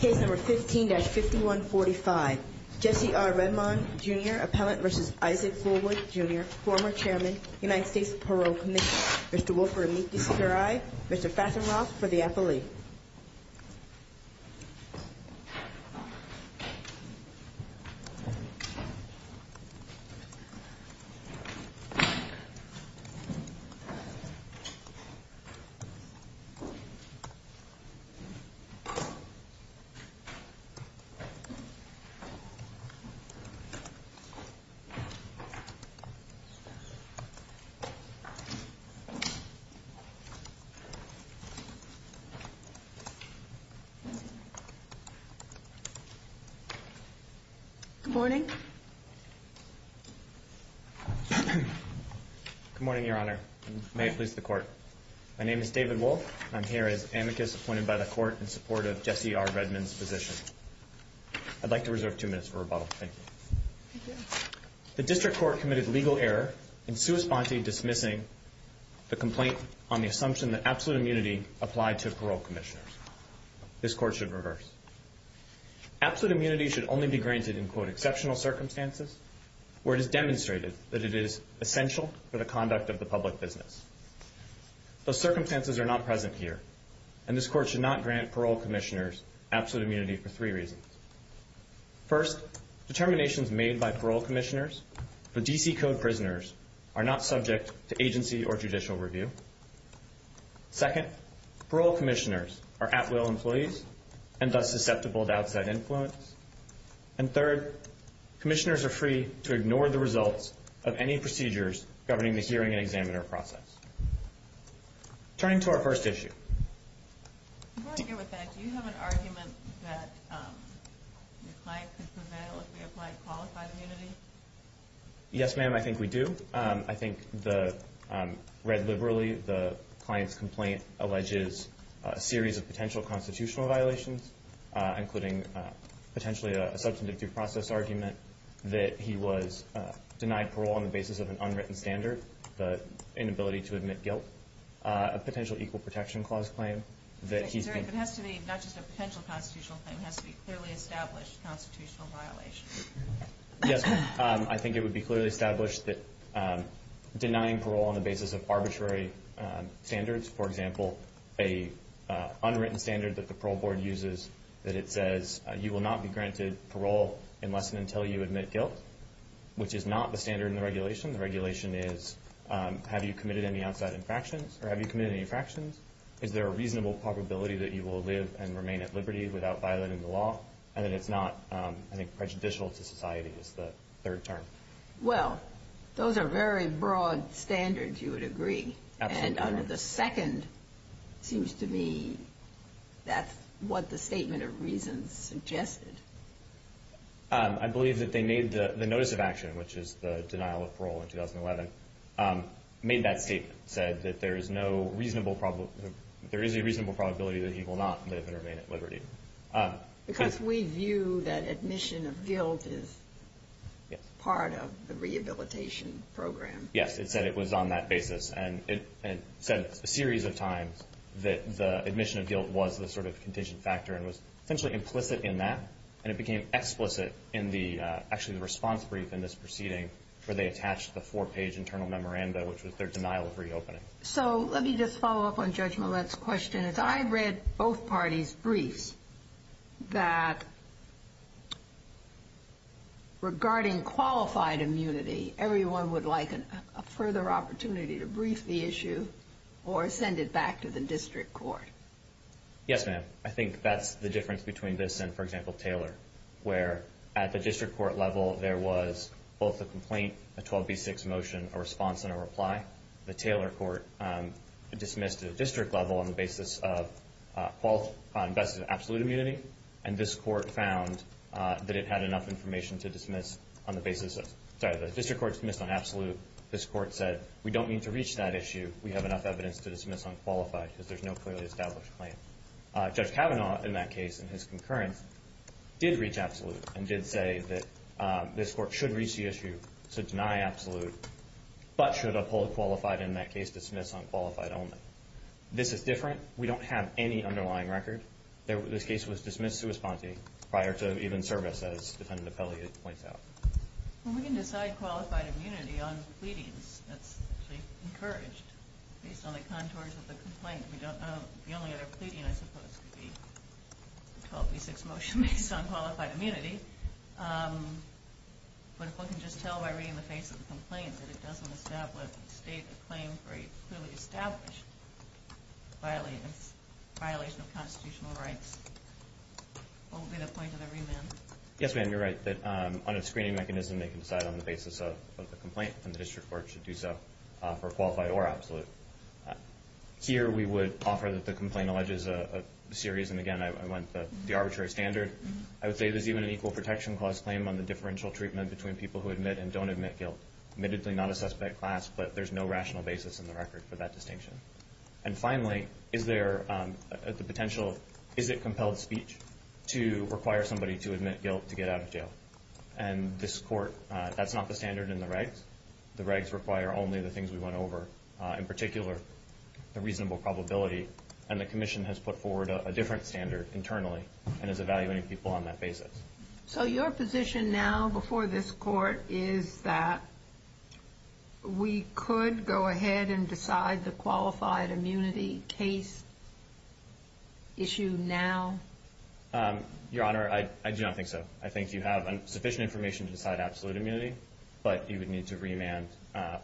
Case No. 15-5145, Jesse R. Redmond, Jr., Appellant v. Isaac Fulwood, Jr., former Chairman, United States Parole Commission. Mr. Wilford, meet this CRI. Mr. Fassenroth, for the appellee. Good morning. Good morning, Your Honor. May it please the Court in support of Jesse R. Redmond's position. I'd like to reserve two minutes for rebuttal. Thank you. The District Court committed legal error in sua sponte dismissing the complaint on the assumption that absolute immunity applied to parole commissioners. This Court should reverse. Absolute immunity should only be granted in, quote, exceptional circumstances where it is demonstrated that it is essential for the conduct of the public business. Those circumstances are not present here, and this Court should not grant parole commissioners absolute immunity for three reasons. First, determinations made by parole commissioners for D.C. Code prisoners are not subject to agency or judicial review. Second, parole commissioners are at-will employees and thus susceptible to outside influence. And third, commissioners are free to ignore the results of any procedures governing the Turning to our first issue. Before I get with that, do you have an argument that the client could prevail if we applied qualified immunity? Yes, ma'am, I think we do. I think read liberally, the client's complaint alleges a series of potential constitutional violations, including potentially a substantive due process argument that he was denied parole on the basis of an unwritten standard, the inability to admit guilt, a potential equal protection clause claim that he's been Sorry, but it has to be not just a potential constitutional claim, it has to be clearly established constitutional violations. Yes, ma'am. I think it would be clearly established that denying parole on the basis of arbitrary standards, for example, an unwritten standard that the parole board uses that it says you will not be granted parole unless and until you admit guilt, which is not the standard in the regulation. The regulation is, have you committed any outside infractions or have you committed any infractions? Is there a reasonable probability that you will live and remain at liberty without violating the law? And that it's not, I think, prejudicial to society is the third term. Well, those are very broad standards, you would agree. Absolutely. And under the second, seems to me that's what the statement of reasons suggested. I believe that they made the notice of action, which is the denial of parole in 2011, made that statement, said that there is no reasonable, there is a reasonable probability that he will not live and remain at liberty. Because we view that admission of guilt is part of the rehabilitation program. Yes, it said it was on that basis. And it said a series of times that the admission of guilt was the sort of contingent factor and was essentially implicit in that. And it became explicit in the, actually, the response brief in this proceeding where they attached the four-page internal memoranda, which was their denial of reopening. So let me just follow up on Judge Millett's question. And as I read both parties' briefs, that regarding qualified immunity, everyone would like a further opportunity to brief the issue or send it back to the district court. Yes, ma'am. I think that's the difference between this and, for example, Taylor, where at the district court level there was both a complaint, a 12b6 motion, a response and a reply. The Taylor court dismissed at the district level on the basis of absolute immunity. And this court found that it had enough information to dismiss on the basis of – sorry, the district court dismissed on absolute. This court said, we don't need to reach that issue. We have enough evidence to dismiss on qualified because there's no clearly established claim. Judge Kavanaugh, in that case, in his concurrence, did reach absolute and did say that this court should reach the issue to deny absolute but should uphold qualified in that case, dismiss on qualified only. This is different. We don't have any underlying record. This case was dismissed sua sponte prior to even service, as Defendant Apelli points out. Well, we can decide qualified immunity on pleadings. That's actually encouraged based on the contours of the complaint. The only other pleading, I suppose, could be 12b6 motion based on qualified immunity. But if one can just tell by reading the face of the complaint that it doesn't state a claim for a clearly established violation of constitutional rights, what would be the point of the remand? Yes, ma'am, you're right. On a screening mechanism, they can decide on the basis of a complaint and the district court should do so for qualified or absolute. Here we would offer that the complaint alleges a series, and again, I went the arbitrary standard. I would say there's even an equal protection clause claim on the differential treatment between people who admit and don't admit guilt. Admittedly not a suspect class, but there's no rational basis in the record for that distinction. And finally, is there the potential, is it compelled speech, to require somebody to admit guilt to get out of jail? And this court, that's not the standard in the regs. The regs require only the things we went over. In particular, the reasonable probability, and the commission has put forward a different standard internally and is evaluating people on that basis. So your position now before this court is that we could go ahead and decide the qualified immunity case issue now? Your Honor, I do not think so. I think you have sufficient information to decide absolute immunity, but you would need to remand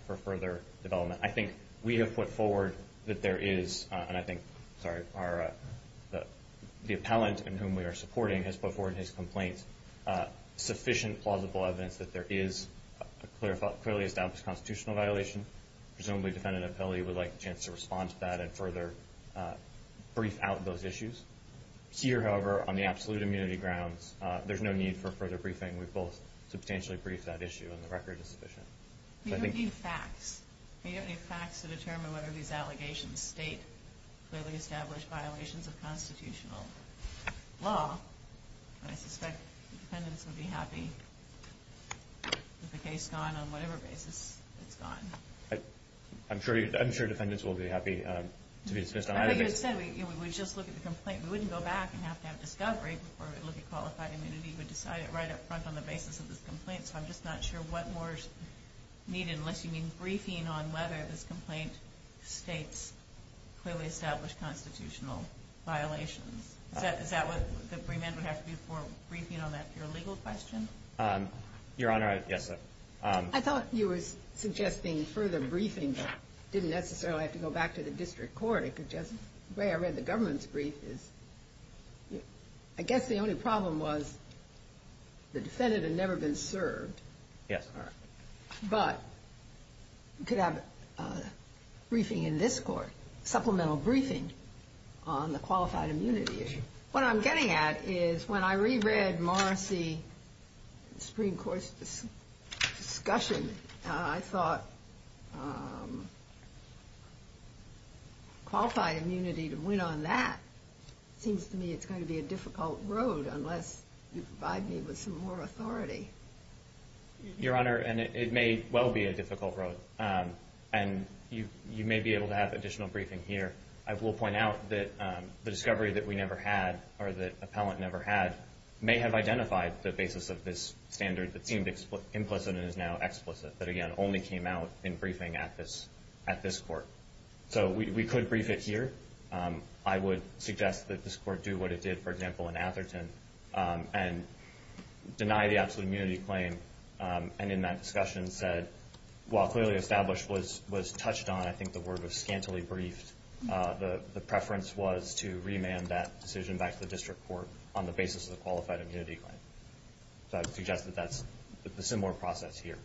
for further development. I think we have put forward that there is, and I think the appellant in whom we are supporting has put forward in his complaint sufficient plausible evidence that there is a clearly established constitutional violation. Presumably the defendant appellee would like a chance to respond to that and further brief out those issues. Here, however, on the absolute immunity grounds, there's no need for further briefing. We've both substantially briefed that issue, and the record is sufficient. You don't need facts. You don't need facts to determine whether these allegations state clearly established violations of constitutional law. And I suspect the defendants would be happy with the case gone on whatever basis it's gone. I'm sure defendants will be happy to be dismissed on either basis. I thought you had said we would just look at the complaint. We wouldn't go back and have to have discovery before we look at qualified immunity, but decide it right up front on the basis of this complaint. So I'm just not sure what more is needed, unless you mean briefing on whether this complaint states clearly established constitutional violations. Is that what the remand would have to be for, briefing on that pure legal question? Your Honor, yes. I thought you were suggesting further briefing, but didn't necessarily have to go back to the district court. It could just be the way I read the government's brief. I guess the only problem was the defendant had never been served. Yes, Your Honor. But you could have a briefing in this court, supplemental briefing, on the qualified immunity issue. What I'm getting at is when I reread Morrissey Supreme Court's discussion, I thought qualified immunity to win on that seems to me it's going to be a difficult road, unless you provide me with some more authority. Your Honor, and it may well be a difficult road, and you may be able to have additional briefing here. I will point out that the discovery that we never had, or the appellant never had, may have identified the basis of this standard that seemed implicit and is now explicit, but, again, only came out in briefing at this court. So we could brief it here. I would suggest that this court do what it did, for example, in Atherton, and deny the absolute immunity claim, and in that discussion said, while clearly established was touched on, I think the word was scantily briefed, the preference was to remand that decision back to the district court on the basis of the qualified immunity claim. So I would suggest that that's the similar process here.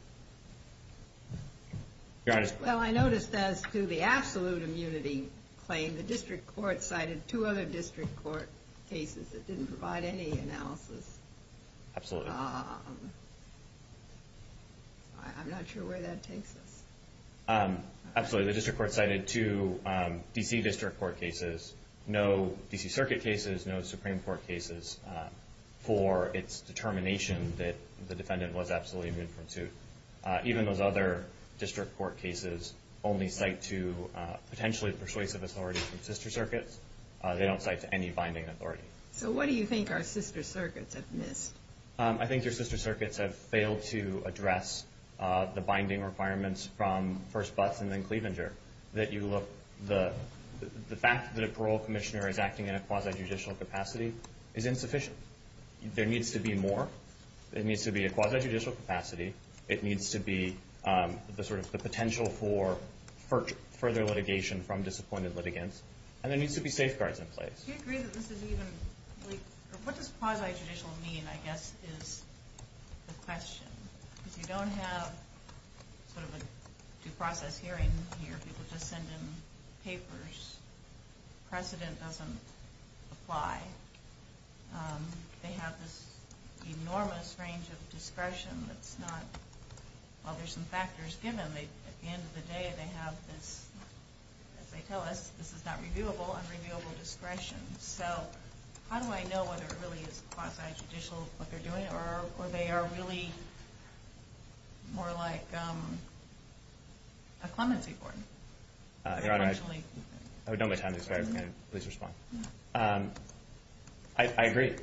Your Honor. Well, I noticed as to the absolute immunity claim, the district court cited two other district court cases that didn't provide any analysis. Absolutely. I'm not sure where that takes us. Absolutely. The district court cited two D.C. district court cases, no D.C. circuit cases, no Supreme Court cases for its determination that the defendant was absolutely immune from suit. Even those other district court cases only cite to potentially persuasive authority from sister circuits. They don't cite to any binding authority. So what do you think our sister circuits have missed? I think your sister circuits have failed to address the binding requirements from first Butts and then Cleavenger. The fact that a parole commissioner is acting in a quasi-judicial capacity is insufficient. There needs to be more. There needs to be a quasi-judicial capacity. It needs to be the potential for further litigation from disappointed litigants. And there needs to be safeguards in place. Do you agree that this is even, like, what does quasi-judicial mean, I guess, is the question. If you don't have sort of a due process hearing here, people just send in papers, precedent doesn't apply. They have this enormous range of discretion that's not, well, there's some factors given. At the end of the day, they have this, as they tell us, this is not reviewable, unreviewable discretion. So how do I know whether it really is quasi-judicial, what they're doing, or they are really more like a clemency court? Your Honor, I don't have time to explain. Please respond. I agree.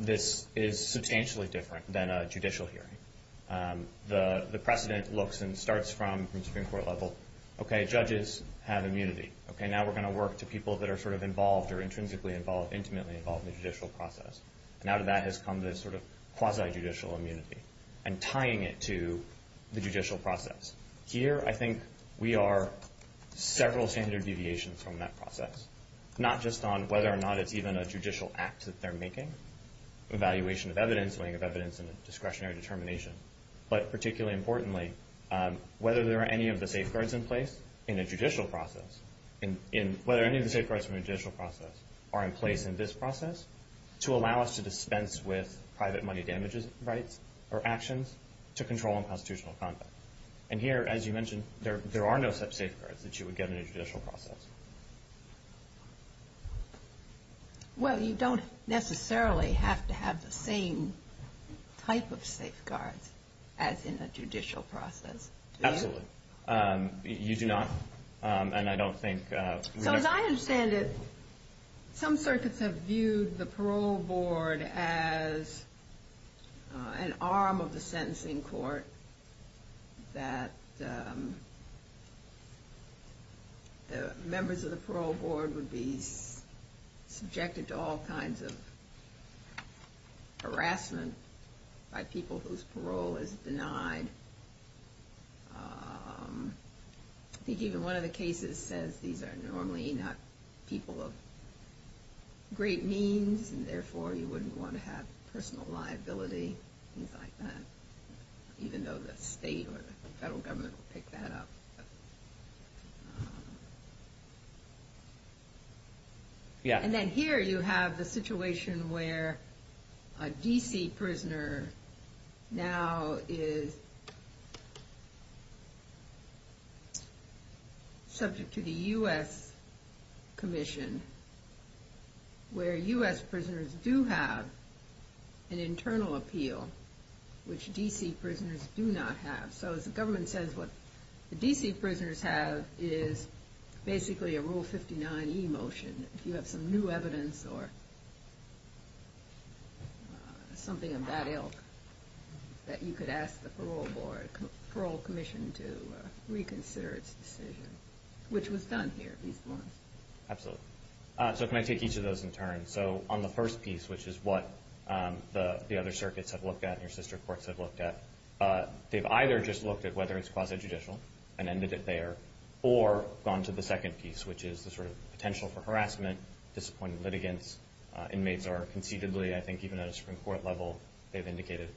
This is substantially different than a judicial hearing. The precedent looks and starts from the Supreme Court level. Okay, judges have immunity. Okay, now we're going to work to people that are sort of involved or intrinsically involved, intimately involved in the judicial process. And out of that has come this sort of quasi-judicial immunity and tying it to the judicial process. Here, I think we are several standard deviations from that process, not just on whether or not it's even a judicial act that they're making. Evaluation of evidence, weighing of evidence, and discretionary determination. But particularly importantly, whether there are any of the safeguards in place in a judicial process, whether any of the safeguards from a judicial process are in place in this process, to allow us to dispense with private money damages rights or actions to control unconstitutional conduct. And here, as you mentioned, there are no safeguards that you would get in a judicial process. Well, you don't necessarily have to have the same type of safeguards as in a judicial process, do you? Absolutely. You do not. And I don't think we have to. So as I understand it, some circuits have viewed the parole board as an arm of the sentencing court that members of the parole board would be subjected to all kinds of harassment by people whose parole is denied. I think even one of the cases says these are normally not people of great means, and therefore you wouldn't want to have personal liability, things like that. Even though the state or the federal government would pick that up. Yeah. And then here you have the situation where a D.C. prisoner now is subject to the U.S. Commission, where U.S. prisoners do have an internal appeal, which D.C. prisoners do not have. So the government says what the D.C. prisoners have is basically a Rule 59e motion. If you have some new evidence or something of that ilk, that you could ask the parole commission to reconsider its decision, which was done here at least once. Absolutely. So can I take each of those in turn? So on the first piece, which is what the other circuits have looked at and your sister courts have looked at, they've either just looked at whether it's quasi-judicial and ended it there, or gone to the second piece, which is the sort of potential for harassment, disappointing litigants. Inmates are conceivably, I think even at a Supreme Court level, they've indicated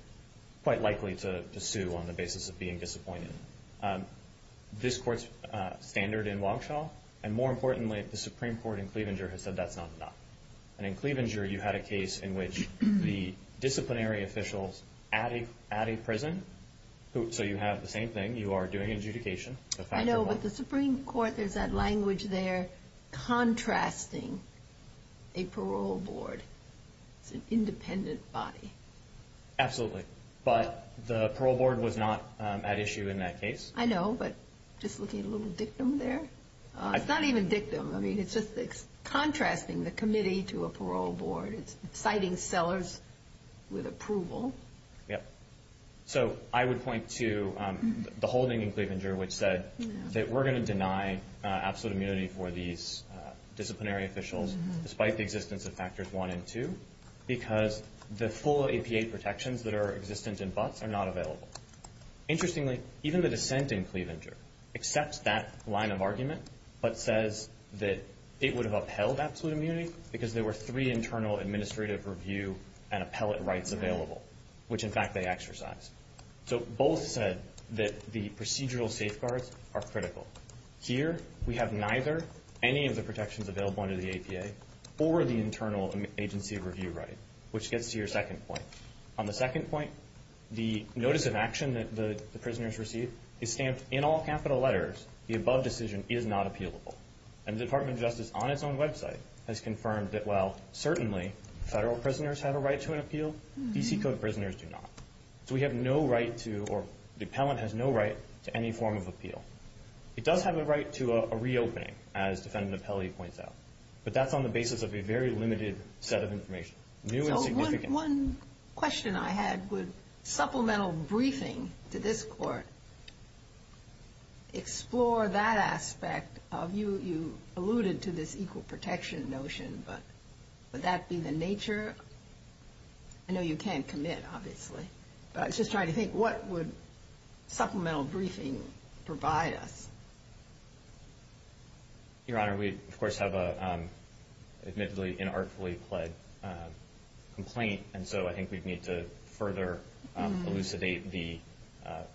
quite likely to sue on the basis of being disappointed. This court's standard in Waukesha, and more importantly, the Supreme Court in Cleavanger, has said that's not enough. And in Cleavanger, you had a case in which the disciplinary officials at a prison, so you have the same thing, you are doing adjudication. I know, but the Supreme Court, there's that language there, contrasting a parole board. It's an independent body. Absolutely. But the parole board was not at issue in that case. I know, but just looking at a little dictum there. It's not even dictum. I mean, it's just contrasting the committee to a parole board. It's citing sellers with approval. Yep. So I would point to the holding in Cleavanger, which said that we're going to deny absolute immunity for these disciplinary officials, despite the existence of factors one and two, because the full APA protections that are existent in Butts are not available. Interestingly, even the dissent in Cleavanger accepts that line of argument, but says that it would have upheld absolute immunity because there were three internal administrative review and appellate rights available, which, in fact, they exercised. So both said that the procedural safeguards are critical. Here, we have neither any of the protections available under the APA or the internal agency review right, which gets to your second point. On the second point, the notice of action that the prisoners receive is stamped in all capital letters, the above decision is not appealable. And the Department of Justice, on its own website, has confirmed that while certainly federal prisoners have a right to an appeal, D.C. Code prisoners do not. So we have no right to, or the appellant has no right to any form of appeal. It does have a right to a reopening, as Defendant Appellate points out, but that's on the basis of a very limited set of information, new and significant. So one question I had, would supplemental briefing to this court explore that aspect of, you alluded to this equal protection notion, but would that be the nature? I know you can't commit, obviously, but I was just trying to think, what would supplemental briefing provide us? Your Honor, we, of course, have an admittedly inartfully pled complaint, and so I think we'd need to further elucidate the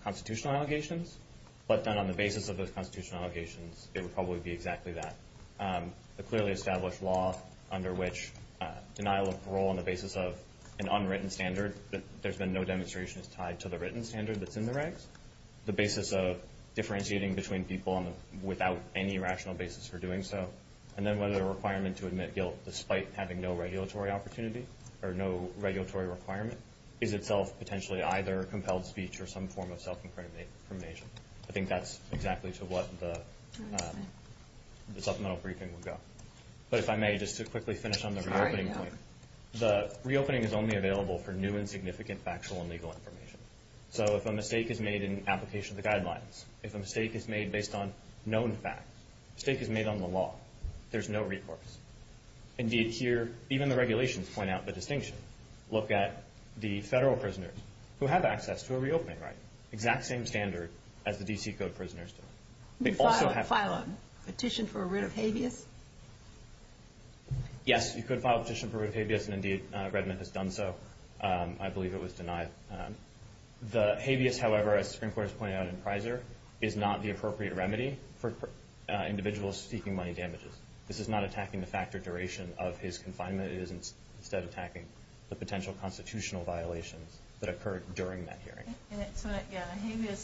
constitutional allegations. But then on the basis of those constitutional allegations, it would probably be exactly that. The clearly established law under which denial of parole on the basis of an unwritten standard, there's been no demonstrations tied to the written standard that's in the regs. The basis of differentiating between people without any rational basis for doing so, and then whether the requirement to admit guilt despite having no regulatory opportunity, or no regulatory requirement, is itself potentially either a compelled speech or some form of self-incrimination. I think that's exactly to what the supplemental briefing would go. But if I may, just to quickly finish on the reopening point, the reopening is only available for new and significant factual and legal information. So if a mistake is made in application of the guidelines, if a mistake is made based on known facts, a mistake is made on the law, there's no recourse. Indeed, here, even the regulations point out the distinction. Look at the federal prisoners who have access to a reopening right. Exact same standard as the D.C. Code prisoners do. They also have to- File a petition for a writ of habeas? Yes, you could file a petition for a writ of habeas, and indeed, Redmond has done so. I believe it was denied. The habeas, however, as the Supreme Court has pointed out in Prizer, is not the appropriate remedy for individuals seeking money damages. This is not attacking the fact or duration of his confinement. It is, instead, attacking the potential constitutional violations that occurred during that hearing. Yeah,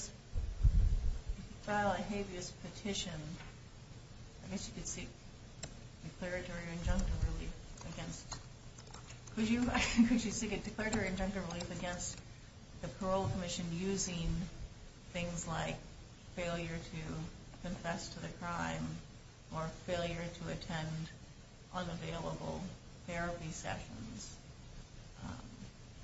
file a habeas petition. I guess you could seek declaratory injunctive relief against- Could you seek a declaratory injunctive relief against the parole commission using things like failure to confess to the crime or failure to attend unavailable therapy sessions?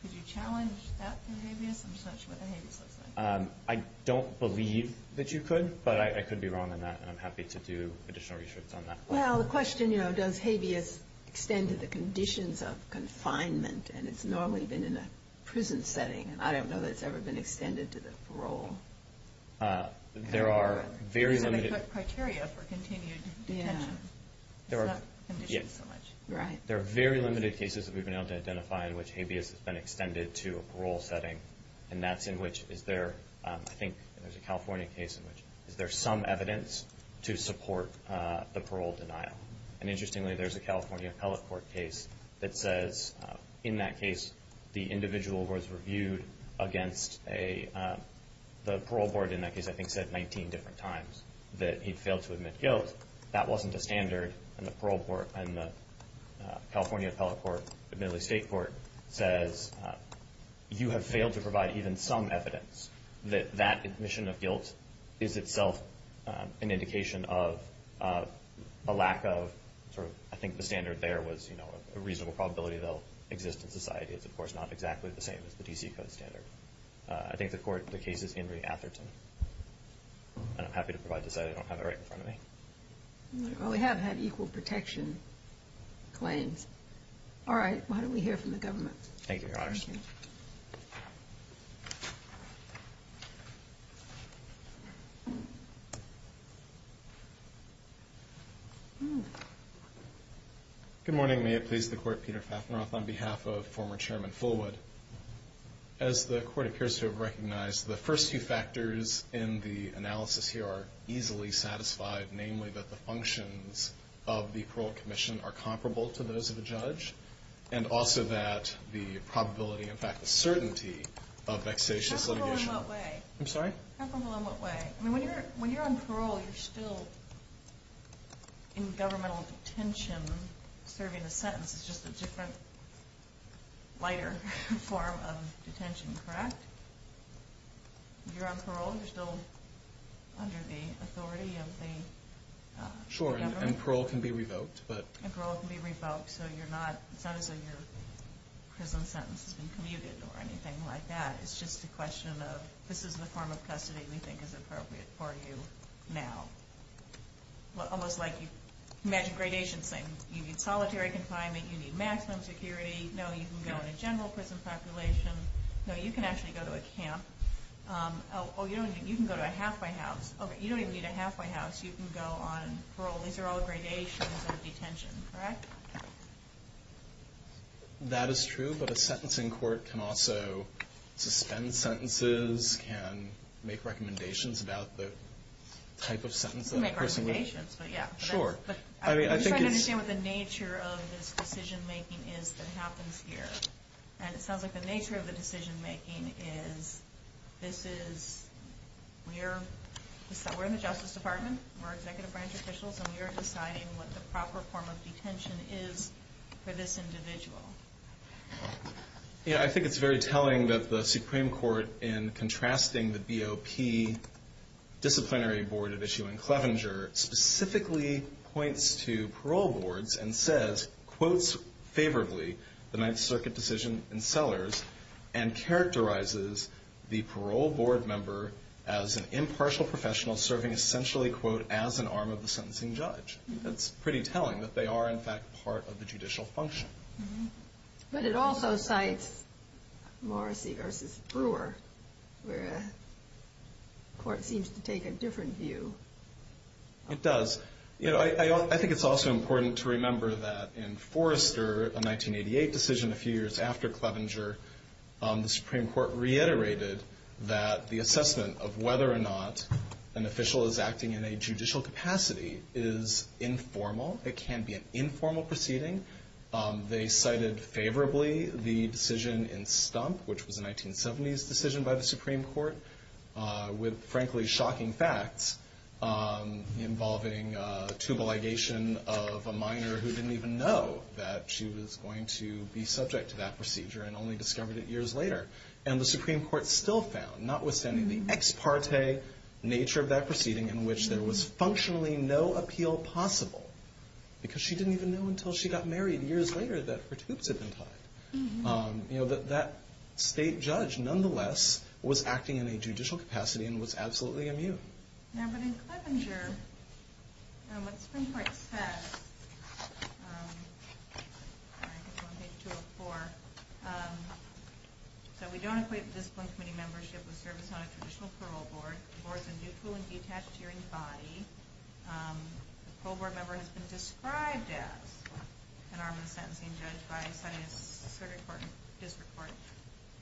Could you challenge that through habeas? I'm just not sure what the habeas looks like. I don't believe that you could, but I could be wrong on that, and I'm happy to do additional research on that. Well, the question, you know, does habeas extend to the conditions of confinement? And it's normally been in a prison setting, and I don't know that it's ever been extended to the parole. There are very limited- Is that a good criteria for continued detention? Yeah. It's not conditioned so much. Right. There are very limited cases that we've been able to identify in which habeas has been extended to a parole setting, and that's in which is there, I think there's a California case in which, is there some evidence to support the parole denial? And interestingly, there's a California appellate court case that says in that case, the individual who was reviewed against the parole board in that case I think said 19 different times that he'd failed to admit guilt. That wasn't a standard, and the California appellate court admittedly state court says, you have failed to provide even some evidence that that admission of guilt is itself an indication of a lack of sort of, I think the standard there was a reasonable probability they'll exist in society. It's, of course, not exactly the same as the D.C. Code standard. I think the court, the case is Henry Atherton, and I'm happy to provide the site. I don't have it right in front of me. Well, we have had equal protection claims. All right. Why don't we hear from the government? Thank you, Your Honors. Thank you. Good morning. May it please the court, Peter Fafneroth on behalf of former Chairman Fullwood. As the court appears to have recognized, the first few factors in the analysis here are easily satisfied, namely that the functions of the parole commission are comparable to those of a judge, and also that the probability, in fact, the certainty of vexatious litigation. Comparable in what way? I'm sorry? Comparable in what way? When you're on parole, you're still in governmental detention. Serving a sentence is just a different, lighter form of detention, correct? You're on parole. You're still under the authority of the government. Sure. And parole can be revoked. And parole can be revoked. So it's not as though your prison sentence has been commuted or anything like that. It's just a question of this is the form of custody we think is appropriate for you now. Almost like you imagine gradation saying you need solitary confinement, you need maximum security. No, you can go in a general prison population. No, you can actually go to a camp. Oh, you can go to a halfway house. Okay, you don't even need a halfway house. You can go on parole. These are all gradations of detention, correct? That is true, but a sentencing court can also suspend sentences, can make recommendations about the type of sentence. You can make recommendations, but yeah. Sure. I'm just trying to understand what the nature of this decision-making is that happens here. And it sounds like the nature of the decision-making is this is we're in the Justice Department. We're executive branch officials, and we are deciding what the proper form of detention is for this individual. Yeah, I think it's very telling that the Supreme Court, in contrasting the BOP disciplinary board at issue in Clevenger, specifically points to parole boards and says, quotes favorably the Ninth Circuit decision in Sellers, and characterizes the parole board member as an impartial professional serving essentially, quote, as an arm of the sentencing judge. That's pretty telling that they are, in fact, part of the judicial function. But it also cites Morrissey v. Brewer, where the court seems to take a different view. It does. I think it's also important to remember that in Forrester, a 1988 decision a few years after Clevenger, the Supreme Court reiterated that the assessment of whether or not an official is acting in a judicial capacity is informal. It can be an informal proceeding. They cited favorably the decision in Stump, which was a 1970s decision by the Supreme Court, with, frankly, shocking facts involving tubal ligation of a minor who didn't even know that she was going to be subject to that procedure and only discovered it years later. And the Supreme Court still found, notwithstanding the ex parte nature of that proceeding in which there was functionally no appeal possible, because she didn't even know until she got married years later that her tubes had been tied, that that state judge, nonetheless, was acting in a judicial capacity and was absolutely immune. Now, but in Clevenger, what the Supreme Court says, page 204, so we don't equate the discipline committee membership with service on a traditional parole board. The board is a neutral and detached hearing body. The parole board member has been described as an armed and sentencing judge by the Senate and Security Court and District Court.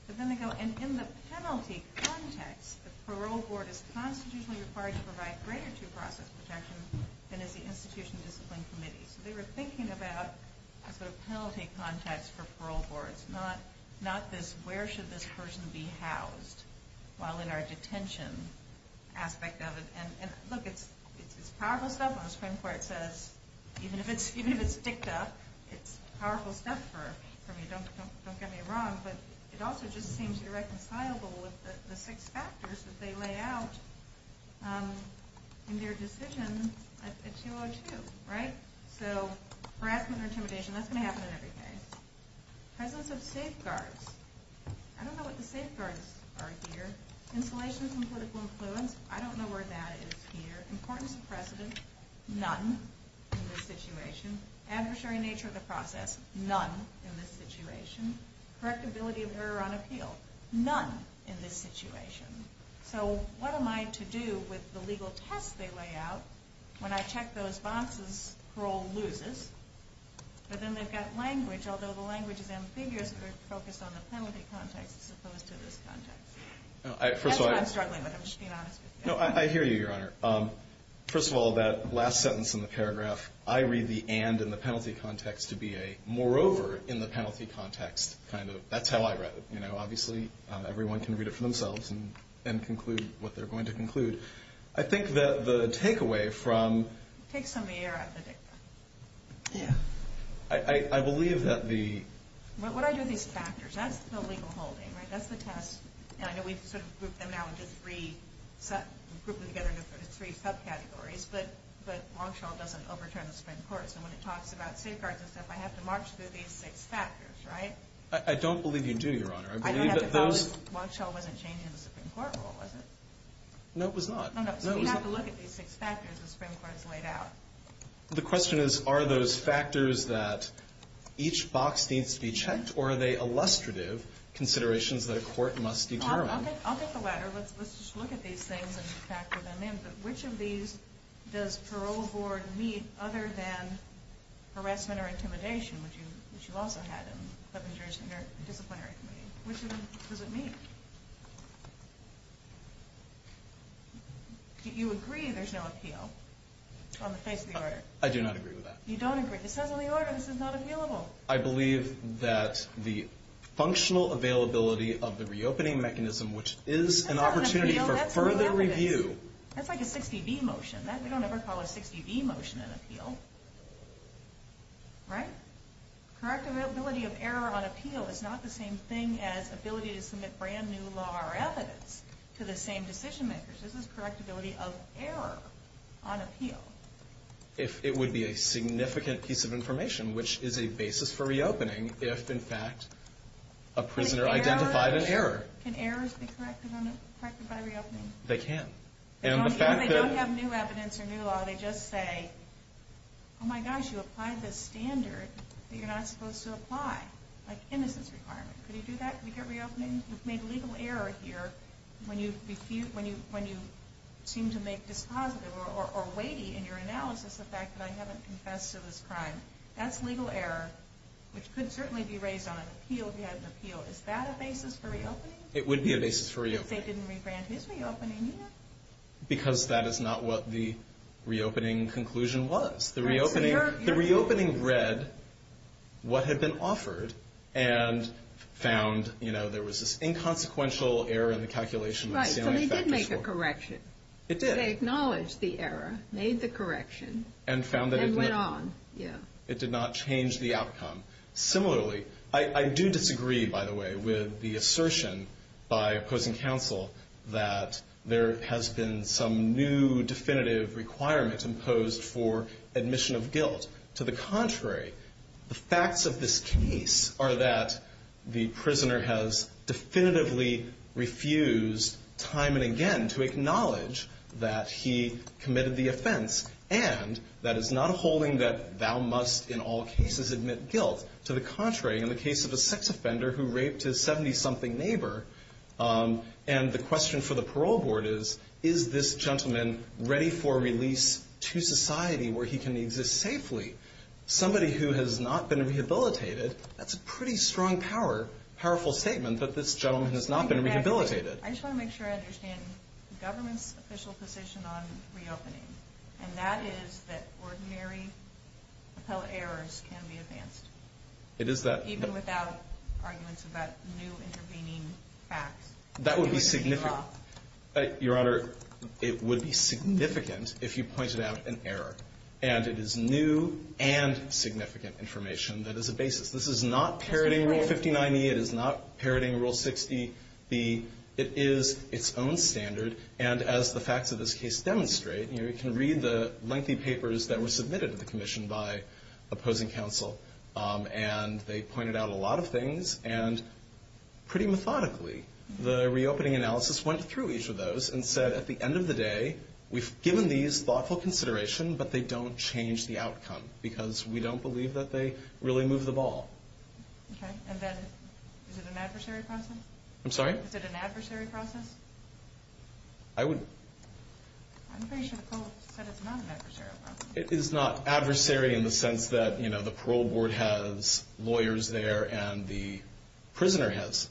But then they go, and in the penalty context, the parole board is constitutionally required to provide greater due process protection than is the institution discipline committee. So they were thinking about a sort of penalty context for parole boards, not this where should this person be housed while in our detention aspect of it. And look, it's powerful stuff. On the Supreme Court it says, even if it's dicked up, it's powerful stuff for me. Don't get me wrong. But it also just seems irreconcilable with the six factors that they lay out in their decision at 202, right? So harassment or intimidation, that's going to happen in every case. Presence of safeguards. I don't know what the safeguards are here. Insolation from political influence. I don't know where that is here. Importance of precedent. None in this situation. Adversary nature of the process. None in this situation. Correctability of error on appeal. None in this situation. So what am I to do with the legal test they lay out when I check those bonds as parole loses? But then they've got language. Although the language is ambiguous, but it's focused on the penalty context as opposed to this context. That's what I'm struggling with, I'm just being honest with you. I hear you, Your Honor. First of all, that last sentence in the paragraph, I read the and in the penalty context to be a moreover in the penalty context. That's how I read it. Obviously, everyone can read it for themselves and conclude what they're going to conclude. I think that the takeaway from... Take some of the air out of the dicta. Yeah. I believe that the... What I do with these factors, that's the legal holding, right? That's the test. I know we've sort of grouped them now into three subcategories, but Longshall doesn't overturn the Supreme Court. So when it talks about safeguards and stuff, I have to march through these six factors, right? I don't believe you do, Your Honor. I don't have to believe Longshall wasn't changing the Supreme Court rule, was it? No, it was not. No, no. So we have to look at these six factors the Supreme Court has laid out. The question is, are those factors that each box needs to be checked, or are they illustrative considerations that a court must determine? I'll take the latter. Let's just look at these things and factor them in. But which of these does parole board meet other than harassment or intimidation, which you also had in the Disciplinary Committee? Which of them does it meet? You agree there's no appeal on the face of the order. I do not agree with that. You don't agree. It says on the order this is not appealable. I believe that the functional availability of the reopening mechanism, which is an opportunity for further review. That's like a 60-D motion. They don't ever call a 60-D motion an appeal, right? Correctability of error on appeal is not the same thing as ability to submit brand new law or evidence to the same decision makers. This is correctability of error on appeal. If it would be a significant piece of information, which is a basis for reopening if, in fact, a prisoner identified an error. Can errors be corrected by reopening? They can. They don't have new evidence or new law. They just say, oh, my gosh, you applied this standard that you're not supposed to apply, like innocence requirement. Could you do that? Could you get reopening? You've made legal error here when you seem to make dispositive or weighty in your analysis the fact that I haven't confessed to this crime. That's legal error, which could certainly be raised on an appeal if you had an appeal. Is that a basis for reopening? It would be a basis for reopening. Because they didn't rebrand his reopening here? Because that is not what the reopening conclusion was. The reopening read what had been offered and found, you know, there was this inconsequential error in the calculation. Right, so they did make a correction. It did. They acknowledged the error, made the correction, and went on. It did not change the outcome. Similarly, I do disagree, by the way, with the assertion by opposing counsel that there has been some new definitive requirement imposed for admission of guilt. To the contrary, the facts of this case are that the prisoner has definitively refused time and again to acknowledge that he committed the offense. And that is not a holding that thou must in all cases admit guilt. To the contrary, in the case of a sex offender who raped his 70-something neighbor, and the question for the parole board is, is this gentleman ready for release to society where he can exist safely? Somebody who has not been rehabilitated, that's a pretty strong power, powerful statement that this gentleman has not been rehabilitated. I just want to make sure I understand the government's official position on reopening. And that is that ordinary appellate errors can be advanced. It is that. Even without arguments about new intervening facts. That would be significant. Your Honor, it would be significant if you pointed out an error. And it is new and significant information that is a basis. This is not parroting Rule 59E. It is not parroting Rule 60B. It is its own standard. And as the facts of this case demonstrate, you can read the lengthy papers that were submitted to the commission by opposing counsel. And they pointed out a lot of things. And pretty methodically, the reopening analysis went through each of those and said, at the end of the day, we've given these thoughtful consideration, but they don't change the outcome. Because we don't believe that they really move the ball. Okay. And then is it an adversary process? I'm sorry? Is it an adversary process? I would... I'm pretty sure the court said it's not an adversary process. It is not adversary in the sense that, you know, the parole board has lawyers there and the prisoner has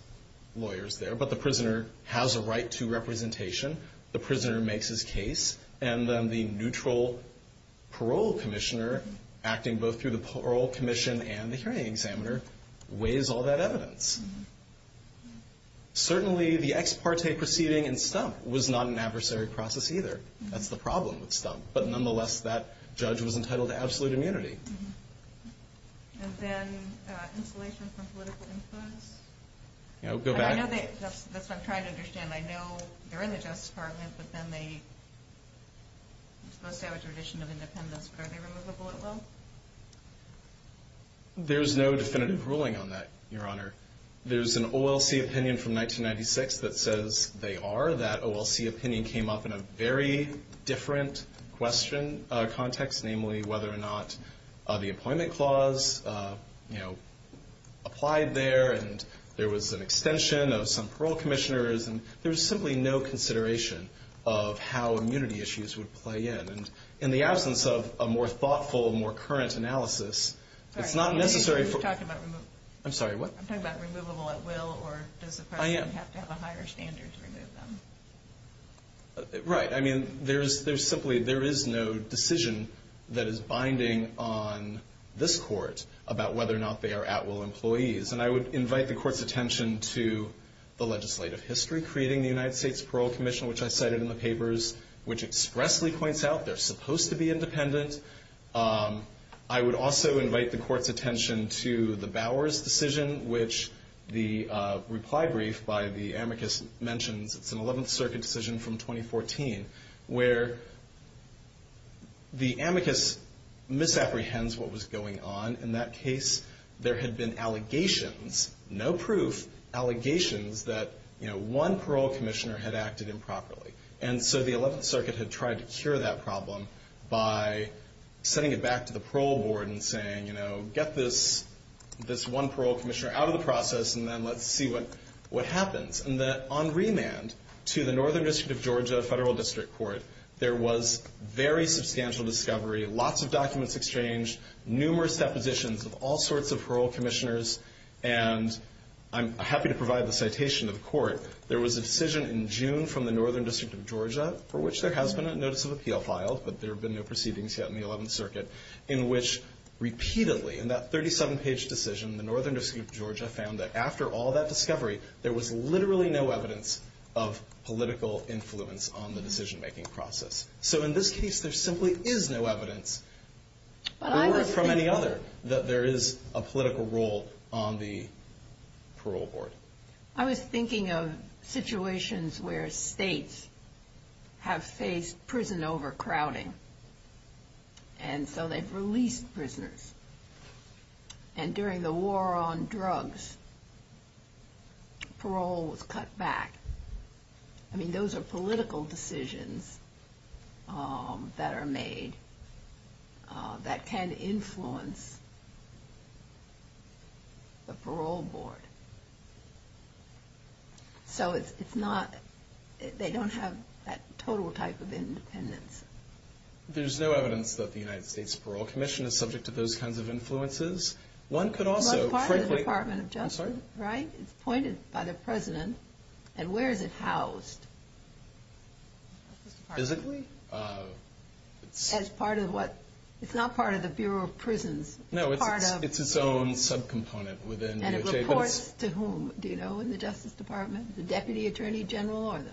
lawyers there. But the prisoner has a right to representation. The prisoner makes his case. And then the neutral parole commissioner, acting both through the parole commission and the hearing examiner, weighs all that evidence. Certainly, the ex parte proceeding in Stump was not an adversary process either. That's the problem with Stump. But nonetheless, that judge was entitled to absolute immunity. And then insulation from political influence? You know, go back... I know that's what I'm trying to understand. I know they're in the Justice Department, but then they're supposed to have a tradition of independence. But are they removable at will? There's no definitive ruling on that, Your Honor. There's an OLC opinion from 1996 that says they are. That OLC opinion came up in a very different question context, namely whether or not the employment clause, you know, applied there. And there was an extension of some parole commissioners. And there was simply no consideration of how immunity issues would play in. And in the absence of a more thoughtful, more current analysis, it's not necessary for... I'm sorry, what? I'm talking about removable at will, or does the person have to have a higher standard to remove them? Right. I mean, there is simply no decision that is binding on this court about whether or not they are at will employees. And I would invite the court's attention to the legislative history creating the United States Parole Commission, which I cited in the papers, which expressly points out they're supposed to be independent. I would also invite the court's attention to the Bowers decision, which the reply brief by the amicus mentions. It's an 11th Circuit decision from 2014, where the amicus misapprehends what was going on. In that case, there had been allegations, no proof, allegations that, you know, one parole commissioner had acted improperly. And so the 11th Circuit had tried to cure that problem by sending it back to the parole board and saying, you know, get this one parole commissioner out of the process, and then let's see what happens. And on remand to the Northern District of Georgia Federal District Court, there was very substantial discovery, lots of documents exchanged, numerous depositions of all sorts of parole commissioners. And I'm happy to provide the citation of the court. There was a decision in June from the Northern District of Georgia for which there has been a notice of appeal filed, but there have been no proceedings yet in the 11th Circuit, in which repeatedly in that 37-page decision, the Northern District of Georgia found that after all that discovery, there was literally no evidence of political influence on the decision-making process. So in this case, there simply is no evidence from any other that there is a political role on the parole board. I was thinking of situations where states have faced prison overcrowding, and so they've released prisoners. And during the war on drugs, parole was cut back. I mean, those are political decisions that are made that can influence the parole board. So they don't have that total type of independence. There's no evidence that the United States Parole Commission is subject to those kinds of influences. But it's part of the Department of Justice, right? It's appointed by the President. And where is it housed? Physically? It's not part of the Bureau of Prisons. No, it's its own subcomponent within DOJ. And it reports to whom? Do you know, in the Justice Department? The Deputy Attorney General or the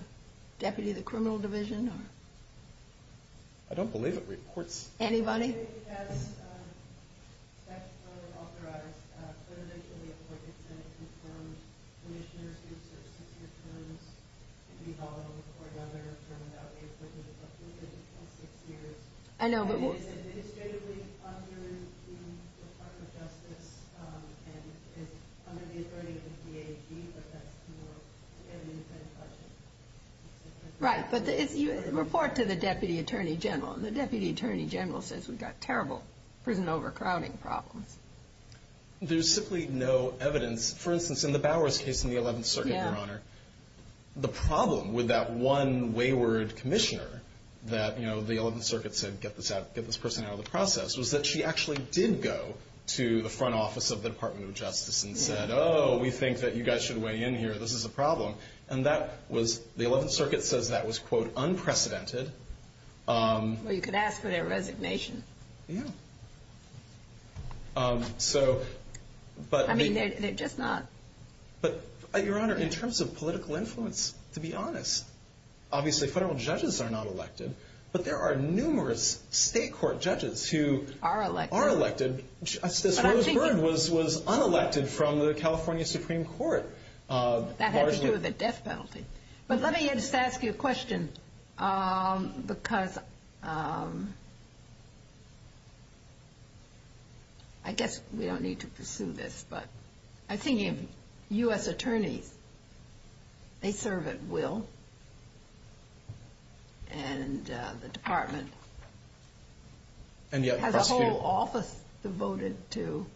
Deputy of the Criminal Division? I don't believe it reports. Anybody? It is statutorily authorized, but initially appointed to any two-term commissioners who serve six-year terms. It could be volatile for another term without the appointment of the President in six years. It is administratively under the Department of Justice and under the authority of the DAG. But that's to get an independent question. Right. But you report to the Deputy Attorney General. And the Deputy Attorney General says we've got terrible prison overcrowding problems. There's simply no evidence. For instance, in the Bowers case in the Eleventh Circuit, Your Honor, the problem with that one wayward commissioner that the Eleventh Circuit said, get this person out of the process, was that she actually did go to the front office of the Department of Justice and said, oh, we think that you guys should weigh in here. This is a problem. And the Eleventh Circuit says that was, quote, unprecedented. Well, you could ask for their resignation. Yeah. I mean, they're just not. But, Your Honor, in terms of political influence, to be honest, obviously federal judges are not elected, but there are numerous state court judges who are elected. Just as Rose Byrne was unelected from the California Supreme Court. That had to do with the death penalty. But let me just ask you a question, because I guess we don't need to pursue this, but I think if U.S. attorneys, they serve at will, and the Department has a whole office devoted to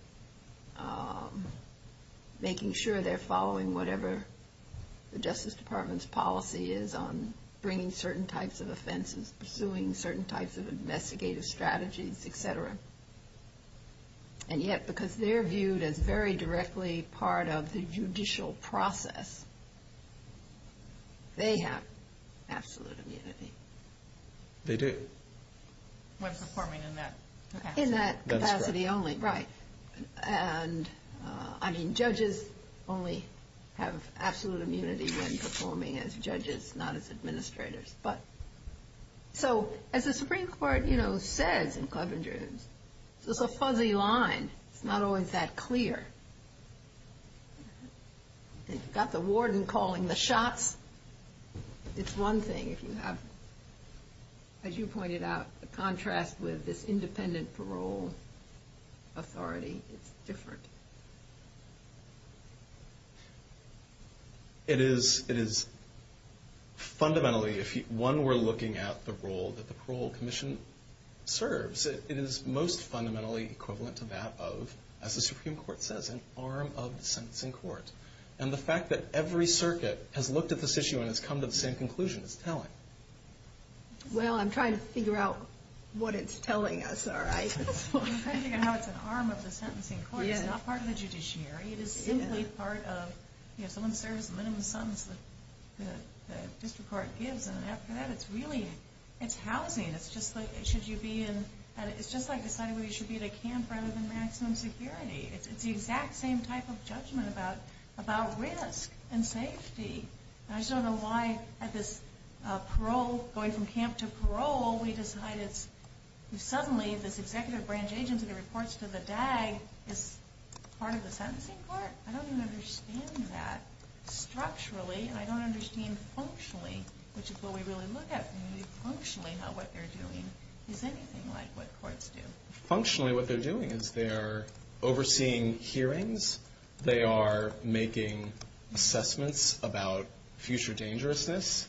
making sure they're following whatever the Justice Department's policy is on bringing certain types of offenses, pursuing certain types of investigative strategies, et cetera. And yet, because they're viewed as very directly part of the judicial process, they have absolute immunity. They do. When performing in that capacity. In that capacity only, right. And, I mean, judges only have absolute immunity when performing as judges, not as administrators. But, so, as the Supreme Court, you know, says in Clevenger, it's a fuzzy line. It's not always that clear. You've got the warden calling the shots. It's one thing if you have, as you pointed out, the contrast with this independent parole authority. It's different. It is fundamentally, if one were looking at the role that the Parole Commission serves, it is most fundamentally equivalent to that of, as the Supreme Court says, an arm of the sentencing court. And the fact that every circuit has looked at this issue and has come to the same conclusion, it's telling. Well, I'm trying to figure out what it's telling us, all right. I'm trying to figure out how it's an arm of the sentencing court. It's not part of the judiciary. It is simply part of, you know, someone serves the minimum sentence that the district court gives. And after that, it's housing. It's just like deciding whether you should be at a camp rather than maximum security. It's the exact same type of judgment about risk and safety. And I just don't know why, at this parole, going from camp to parole, we decide it's suddenly this executive branch agent who reports to the DAG is part of the sentencing court. I don't even understand that. Structurally, I don't understand functionally, which is what we really look at. Maybe functionally what they're doing is anything like what courts do. Functionally, what they're doing is they're overseeing hearings. They are making assessments about future dangerousness.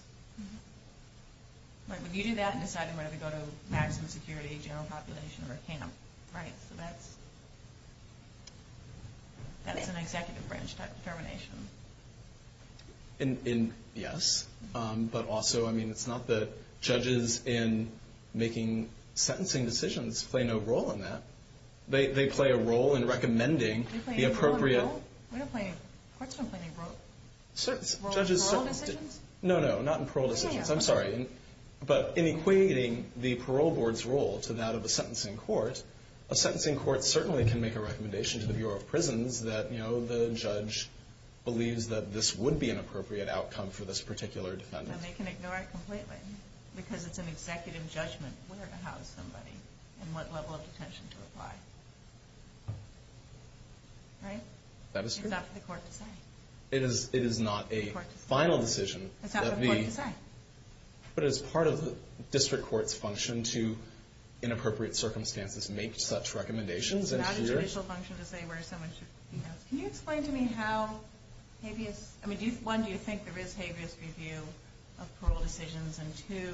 Right, but you do that and decide whether to go to maximum security, general population, or a camp, right? So that's an executive branch type of determination. Yes. But also, I mean, it's not that judges in making sentencing decisions play no role in that. They play a role in recommending the appropriate. We don't play a role? Courts don't play a role in parole decisions? No, no, not in parole decisions. I'm sorry. But in equating the parole board's role to that of a sentencing court, a sentencing court certainly can make a recommendation to the Bureau of Prisons that, you know, the judge believes that this would be an appropriate outcome for this particular defendant. And they can ignore it completely because it's an executive judgment where to house somebody and what level of detention to apply. Right? That is true. It's up to the court to say. It is not a final decision. It's up to the court to say. But as part of the district court's function to, in appropriate circumstances, make such recommendations. It's not a judicial function to say where someone should be housed. Can you explain to me how habeas? I mean, one, do you think there is habeas review of parole decisions? And two,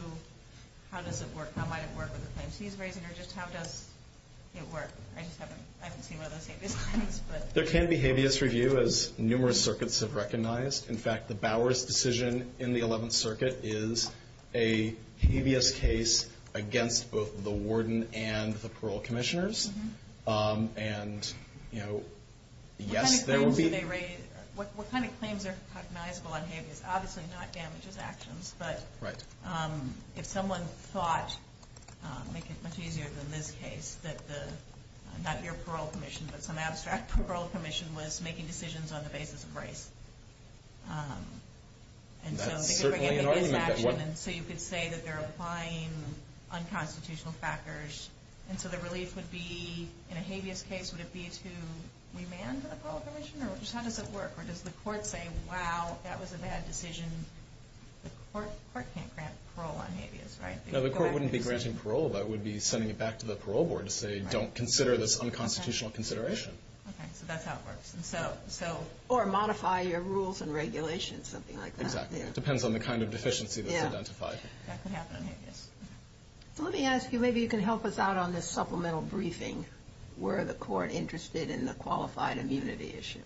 how does it work? How might it work with the claims he's raising? Or just how does it work? I just haven't seen one of those habeas claims. There can be habeas review, as numerous circuits have recognized. In fact, the Bowers decision in the 11th Circuit is a habeas case against both the warden and the parole commissioners. And, you know, yes, there will be. What kind of claims are recognizable on habeas? Obviously not damages actions. Right. But if someone thought, to make it much easier than this case, that the, not your parole commission, but some abstract parole commission was making decisions on the basis of race. That's certainly an argument. So you could say that they're applying unconstitutional factors. And so the relief would be, in a habeas case, would it be to remand the parole commission? Or just how does it work? Or does the court say, wow, that was a bad decision? The court can't grant parole on habeas, right? No, the court wouldn't be granting parole. That would be sending it back to the parole board to say, don't consider this unconstitutional consideration. Okay, so that's how it works. Or modify your rules and regulations, something like that. Exactly. It depends on the kind of deficiency that's identified. That could happen on habeas. So let me ask you, maybe you can help us out on this supplemental briefing. Were the court interested in the qualified immunity issue?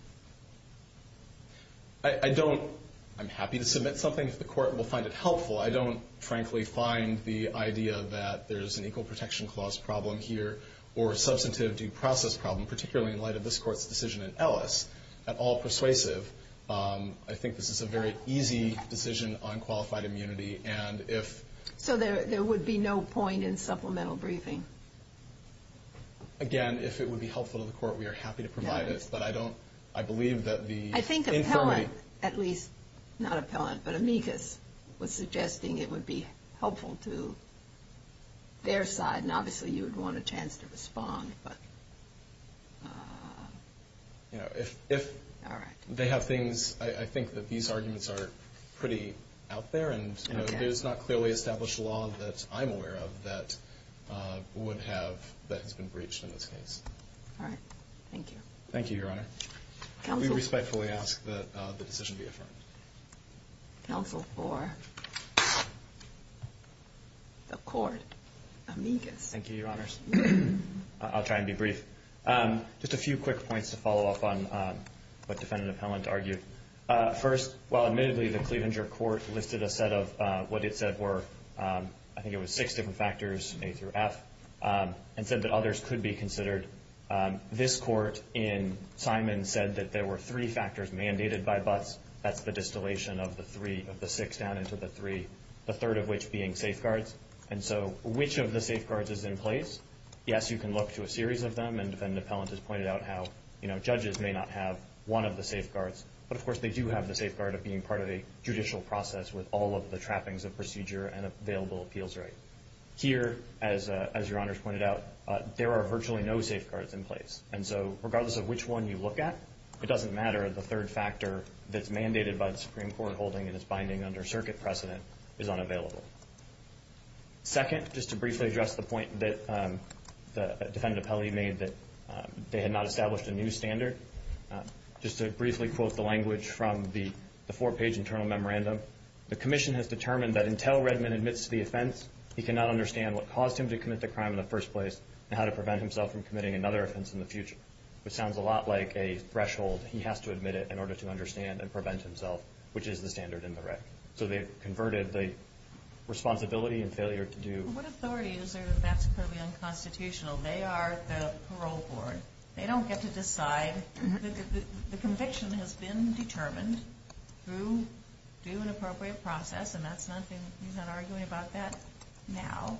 I'm happy to submit something if the court will find it helpful. I don't, frankly, find the idea that there's an equal protection clause problem here or a substantive due process problem, particularly in light of this court's decision in Ellis, at all persuasive. I think this is a very easy decision on qualified immunity. So there would be no point in supplemental briefing? Again, if it would be helpful to the court, we are happy to provide it. But I believe that the infirmity. At least, not appellant, but amicus was suggesting it would be helpful to their side, and obviously you would want a chance to respond. If they have things, I think that these arguments are pretty out there, and there's not clearly established law that I'm aware of that would have, that has been breached in this case. Thank you, Your Honor. We respectfully ask that the decision be affirmed. Counsel for the court, amicus. Thank you, Your Honors. I'll try and be brief. Just a few quick points to follow up on what Defendant Appellant argued. First, while admittedly the Cleavenger Court listed a set of what it said were, I think it was six different factors, A through F, and said that others could be considered. This court in Simon said that there were three factors mandated by Butts. That's the distillation of the six down into the three, the third of which being safeguards. And so which of the safeguards is in place? Yes, you can look to a series of them, and Defendant Appellant has pointed out how judges may not have one of the safeguards, but of course they do have the safeguard of being part of a judicial process with all of the trappings of procedure and available appeals right. Here, as Your Honors pointed out, there are virtually no safeguards in place. And so regardless of which one you look at, it doesn't matter the third factor that's mandated by the Supreme Court holding and is binding under circuit precedent is unavailable. Second, just to briefly address the point that Defendant Appellant made that they had not established a new standard, just to briefly quote the language from the four-page internal memorandum, the commission has determined that until Redman admits to the offense, he cannot understand what caused him to commit the crime in the first place and how to prevent himself from committing another offense in the future, which sounds a lot like a threshold. He has to admit it in order to understand and prevent himself, which is the standard in the rec. So they've converted the responsibility and failure to do. What authority is there that that's completely unconstitutional? They are the parole board. They don't get to decide. The conviction has been determined through an appropriate process, and he's not arguing about that now.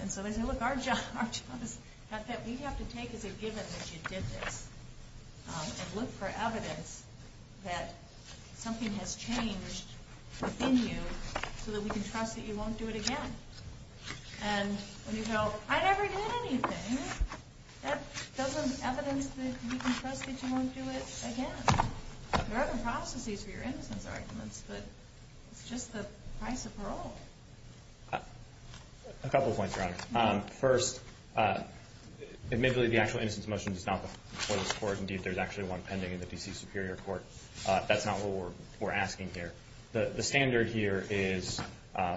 And so they say, look, our job is that we have to take as a given that you did this and look for evidence that something has changed within you so that we can trust that you won't do it again. And when you go, I never did anything, that doesn't evidence that you can trust that you won't do it again. There are other processes for your innocence arguments, but it's just the price of parole. A couple points, Your Honor. First, admittedly, the actual innocence motion is not before this Court. Indeed, there's actually one pending in the D.C. Superior Court. That's not what we're asking here. The standard here is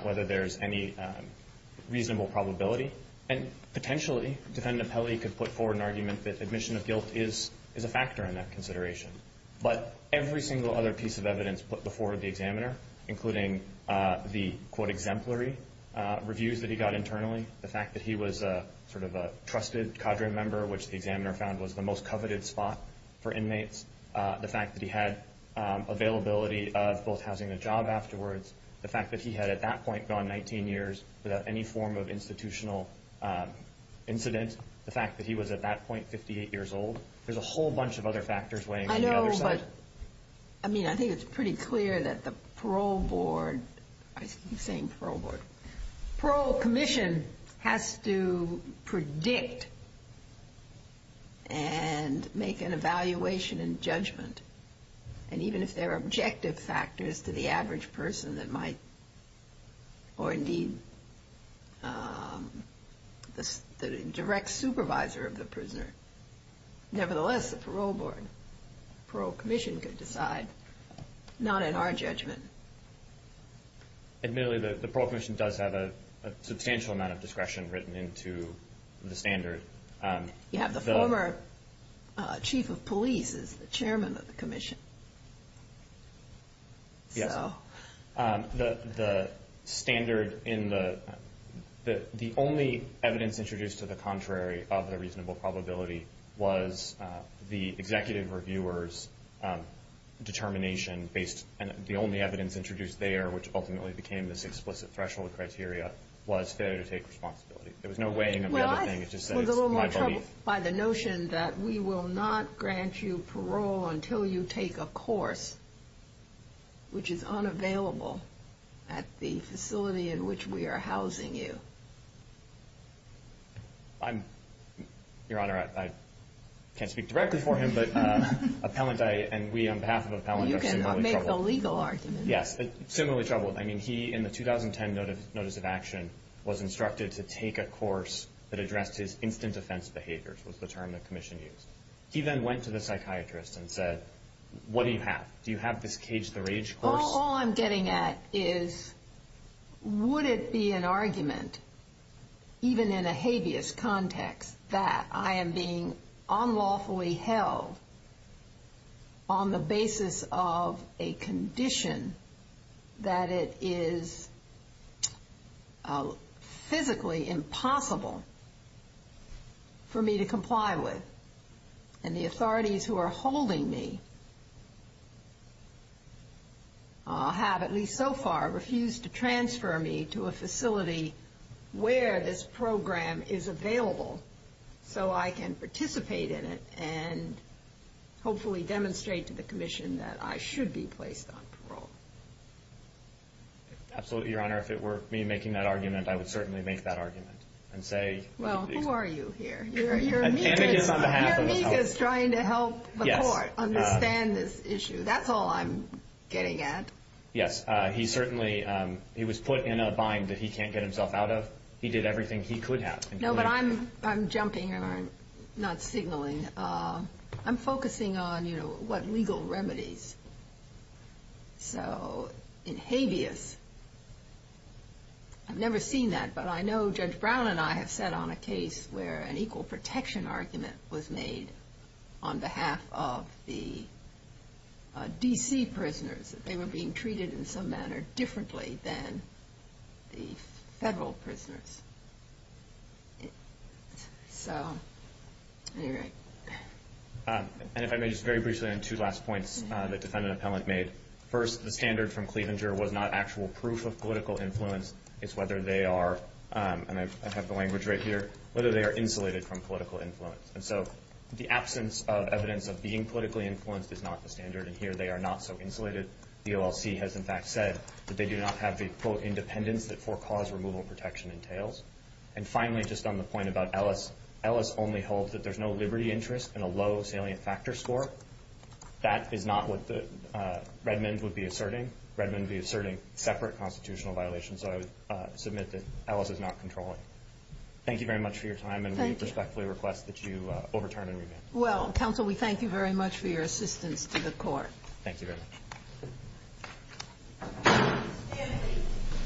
whether there's any reasonable probability, and potentially, Defendant Pelley could put forward an argument that admission of guilt is a factor in that consideration. But every single other piece of evidence put before the examiner, including the, quote, exemplary reviews that he got internally, the fact that he was sort of a trusted cadre member, which the examiner found was the most coveted spot for inmates, the fact that he had availability of both housing and a job afterwards, the fact that he had at that point gone 19 years without any form of institutional incident, the fact that he was at that point 58 years old, there's a whole bunch of other factors weighing on the other side. I know, but, I mean, I think it's pretty clear that the Parole Board, I keep saying Parole Board, Parole Commission has to predict and make an evaluation and judgment. And even if there are objective factors to the average person that might, or indeed the direct supervisor of the prisoner, nevertheless, the Parole Board, Parole Commission could decide, not in our judgment. Admittedly, the Parole Commission does have a substantial amount of discretion written into the standard. You have the former chief of police as the chairman of the commission. Yes. The standard in the, the only evidence introduced to the contrary of the reasonable probability was the executive reviewer's determination based, and the only evidence introduced there, which ultimately became this explicit threshold criteria, was failure to take responsibility. There was no weighing of the other thing, it just says my belief. Well, I was a little more troubled by the notion that we will not grant you to take a course which is unavailable at the facility in which we are housing you. I'm, Your Honor, I can't speak directly for him, but appellant and we on behalf of appellant are similarly troubled. You can make a legal argument. Yes, similarly troubled. I mean, he, in the 2010 notice of action, was instructed to take a course that addressed his instant offense behaviors, was the term the commission used. He then went to the psychiatrist and said, what do you have? Do you have this cage the rage course? All I'm getting at is would it be an argument, even in a habeas context that I am being unlawfully held on the basis of a condition that it is physically impossible for me to comply with. And the authorities who are holding me have, at least so far, refused to transfer me to a facility where this program is available so I can participate in it and hopefully demonstrate to the commission that I should be placed on parole. Absolutely, Your Honor. If it were me making that argument, I would certainly make that argument and say. Well, who are you here? Your amicus is trying to help the court understand this issue. That's all I'm getting at. Yes. He certainly was put in a bind that he can't get himself out of. He did everything he could have. No, but I'm jumping, not signaling. I'm focusing on what legal remedies. So in habeas, I've never seen that, but I know Judge Brown and I have sat on a case where an equal protection argument was made on behalf of the D.C. prisoners. They were being treated in some manner differently than the federal prisoners. So, anyway. And if I may, just very briefly on two last points the defendant appellant made. First, the standard from Cleavinger was not actual proof of political influence. It's whether they are, and I have the language right here, whether they are insulated from political influence. And so the absence of evidence of being politically influenced is not the standard, and here they are not so insulated. The OLC has, in fact, said that they do not have the, quote, And finally, just on the point about Ellis. Ellis only holds that there's no liberty interest in a low salient factor score. That is not what Redmond would be asserting. Redmond would be asserting separate constitutional violations, so I would submit that Ellis is not controlling. Thank you very much for your time, and we respectfully request that you overturn and revamp. Well, counsel, we thank you very much for your assistance to the court. Thank you very much.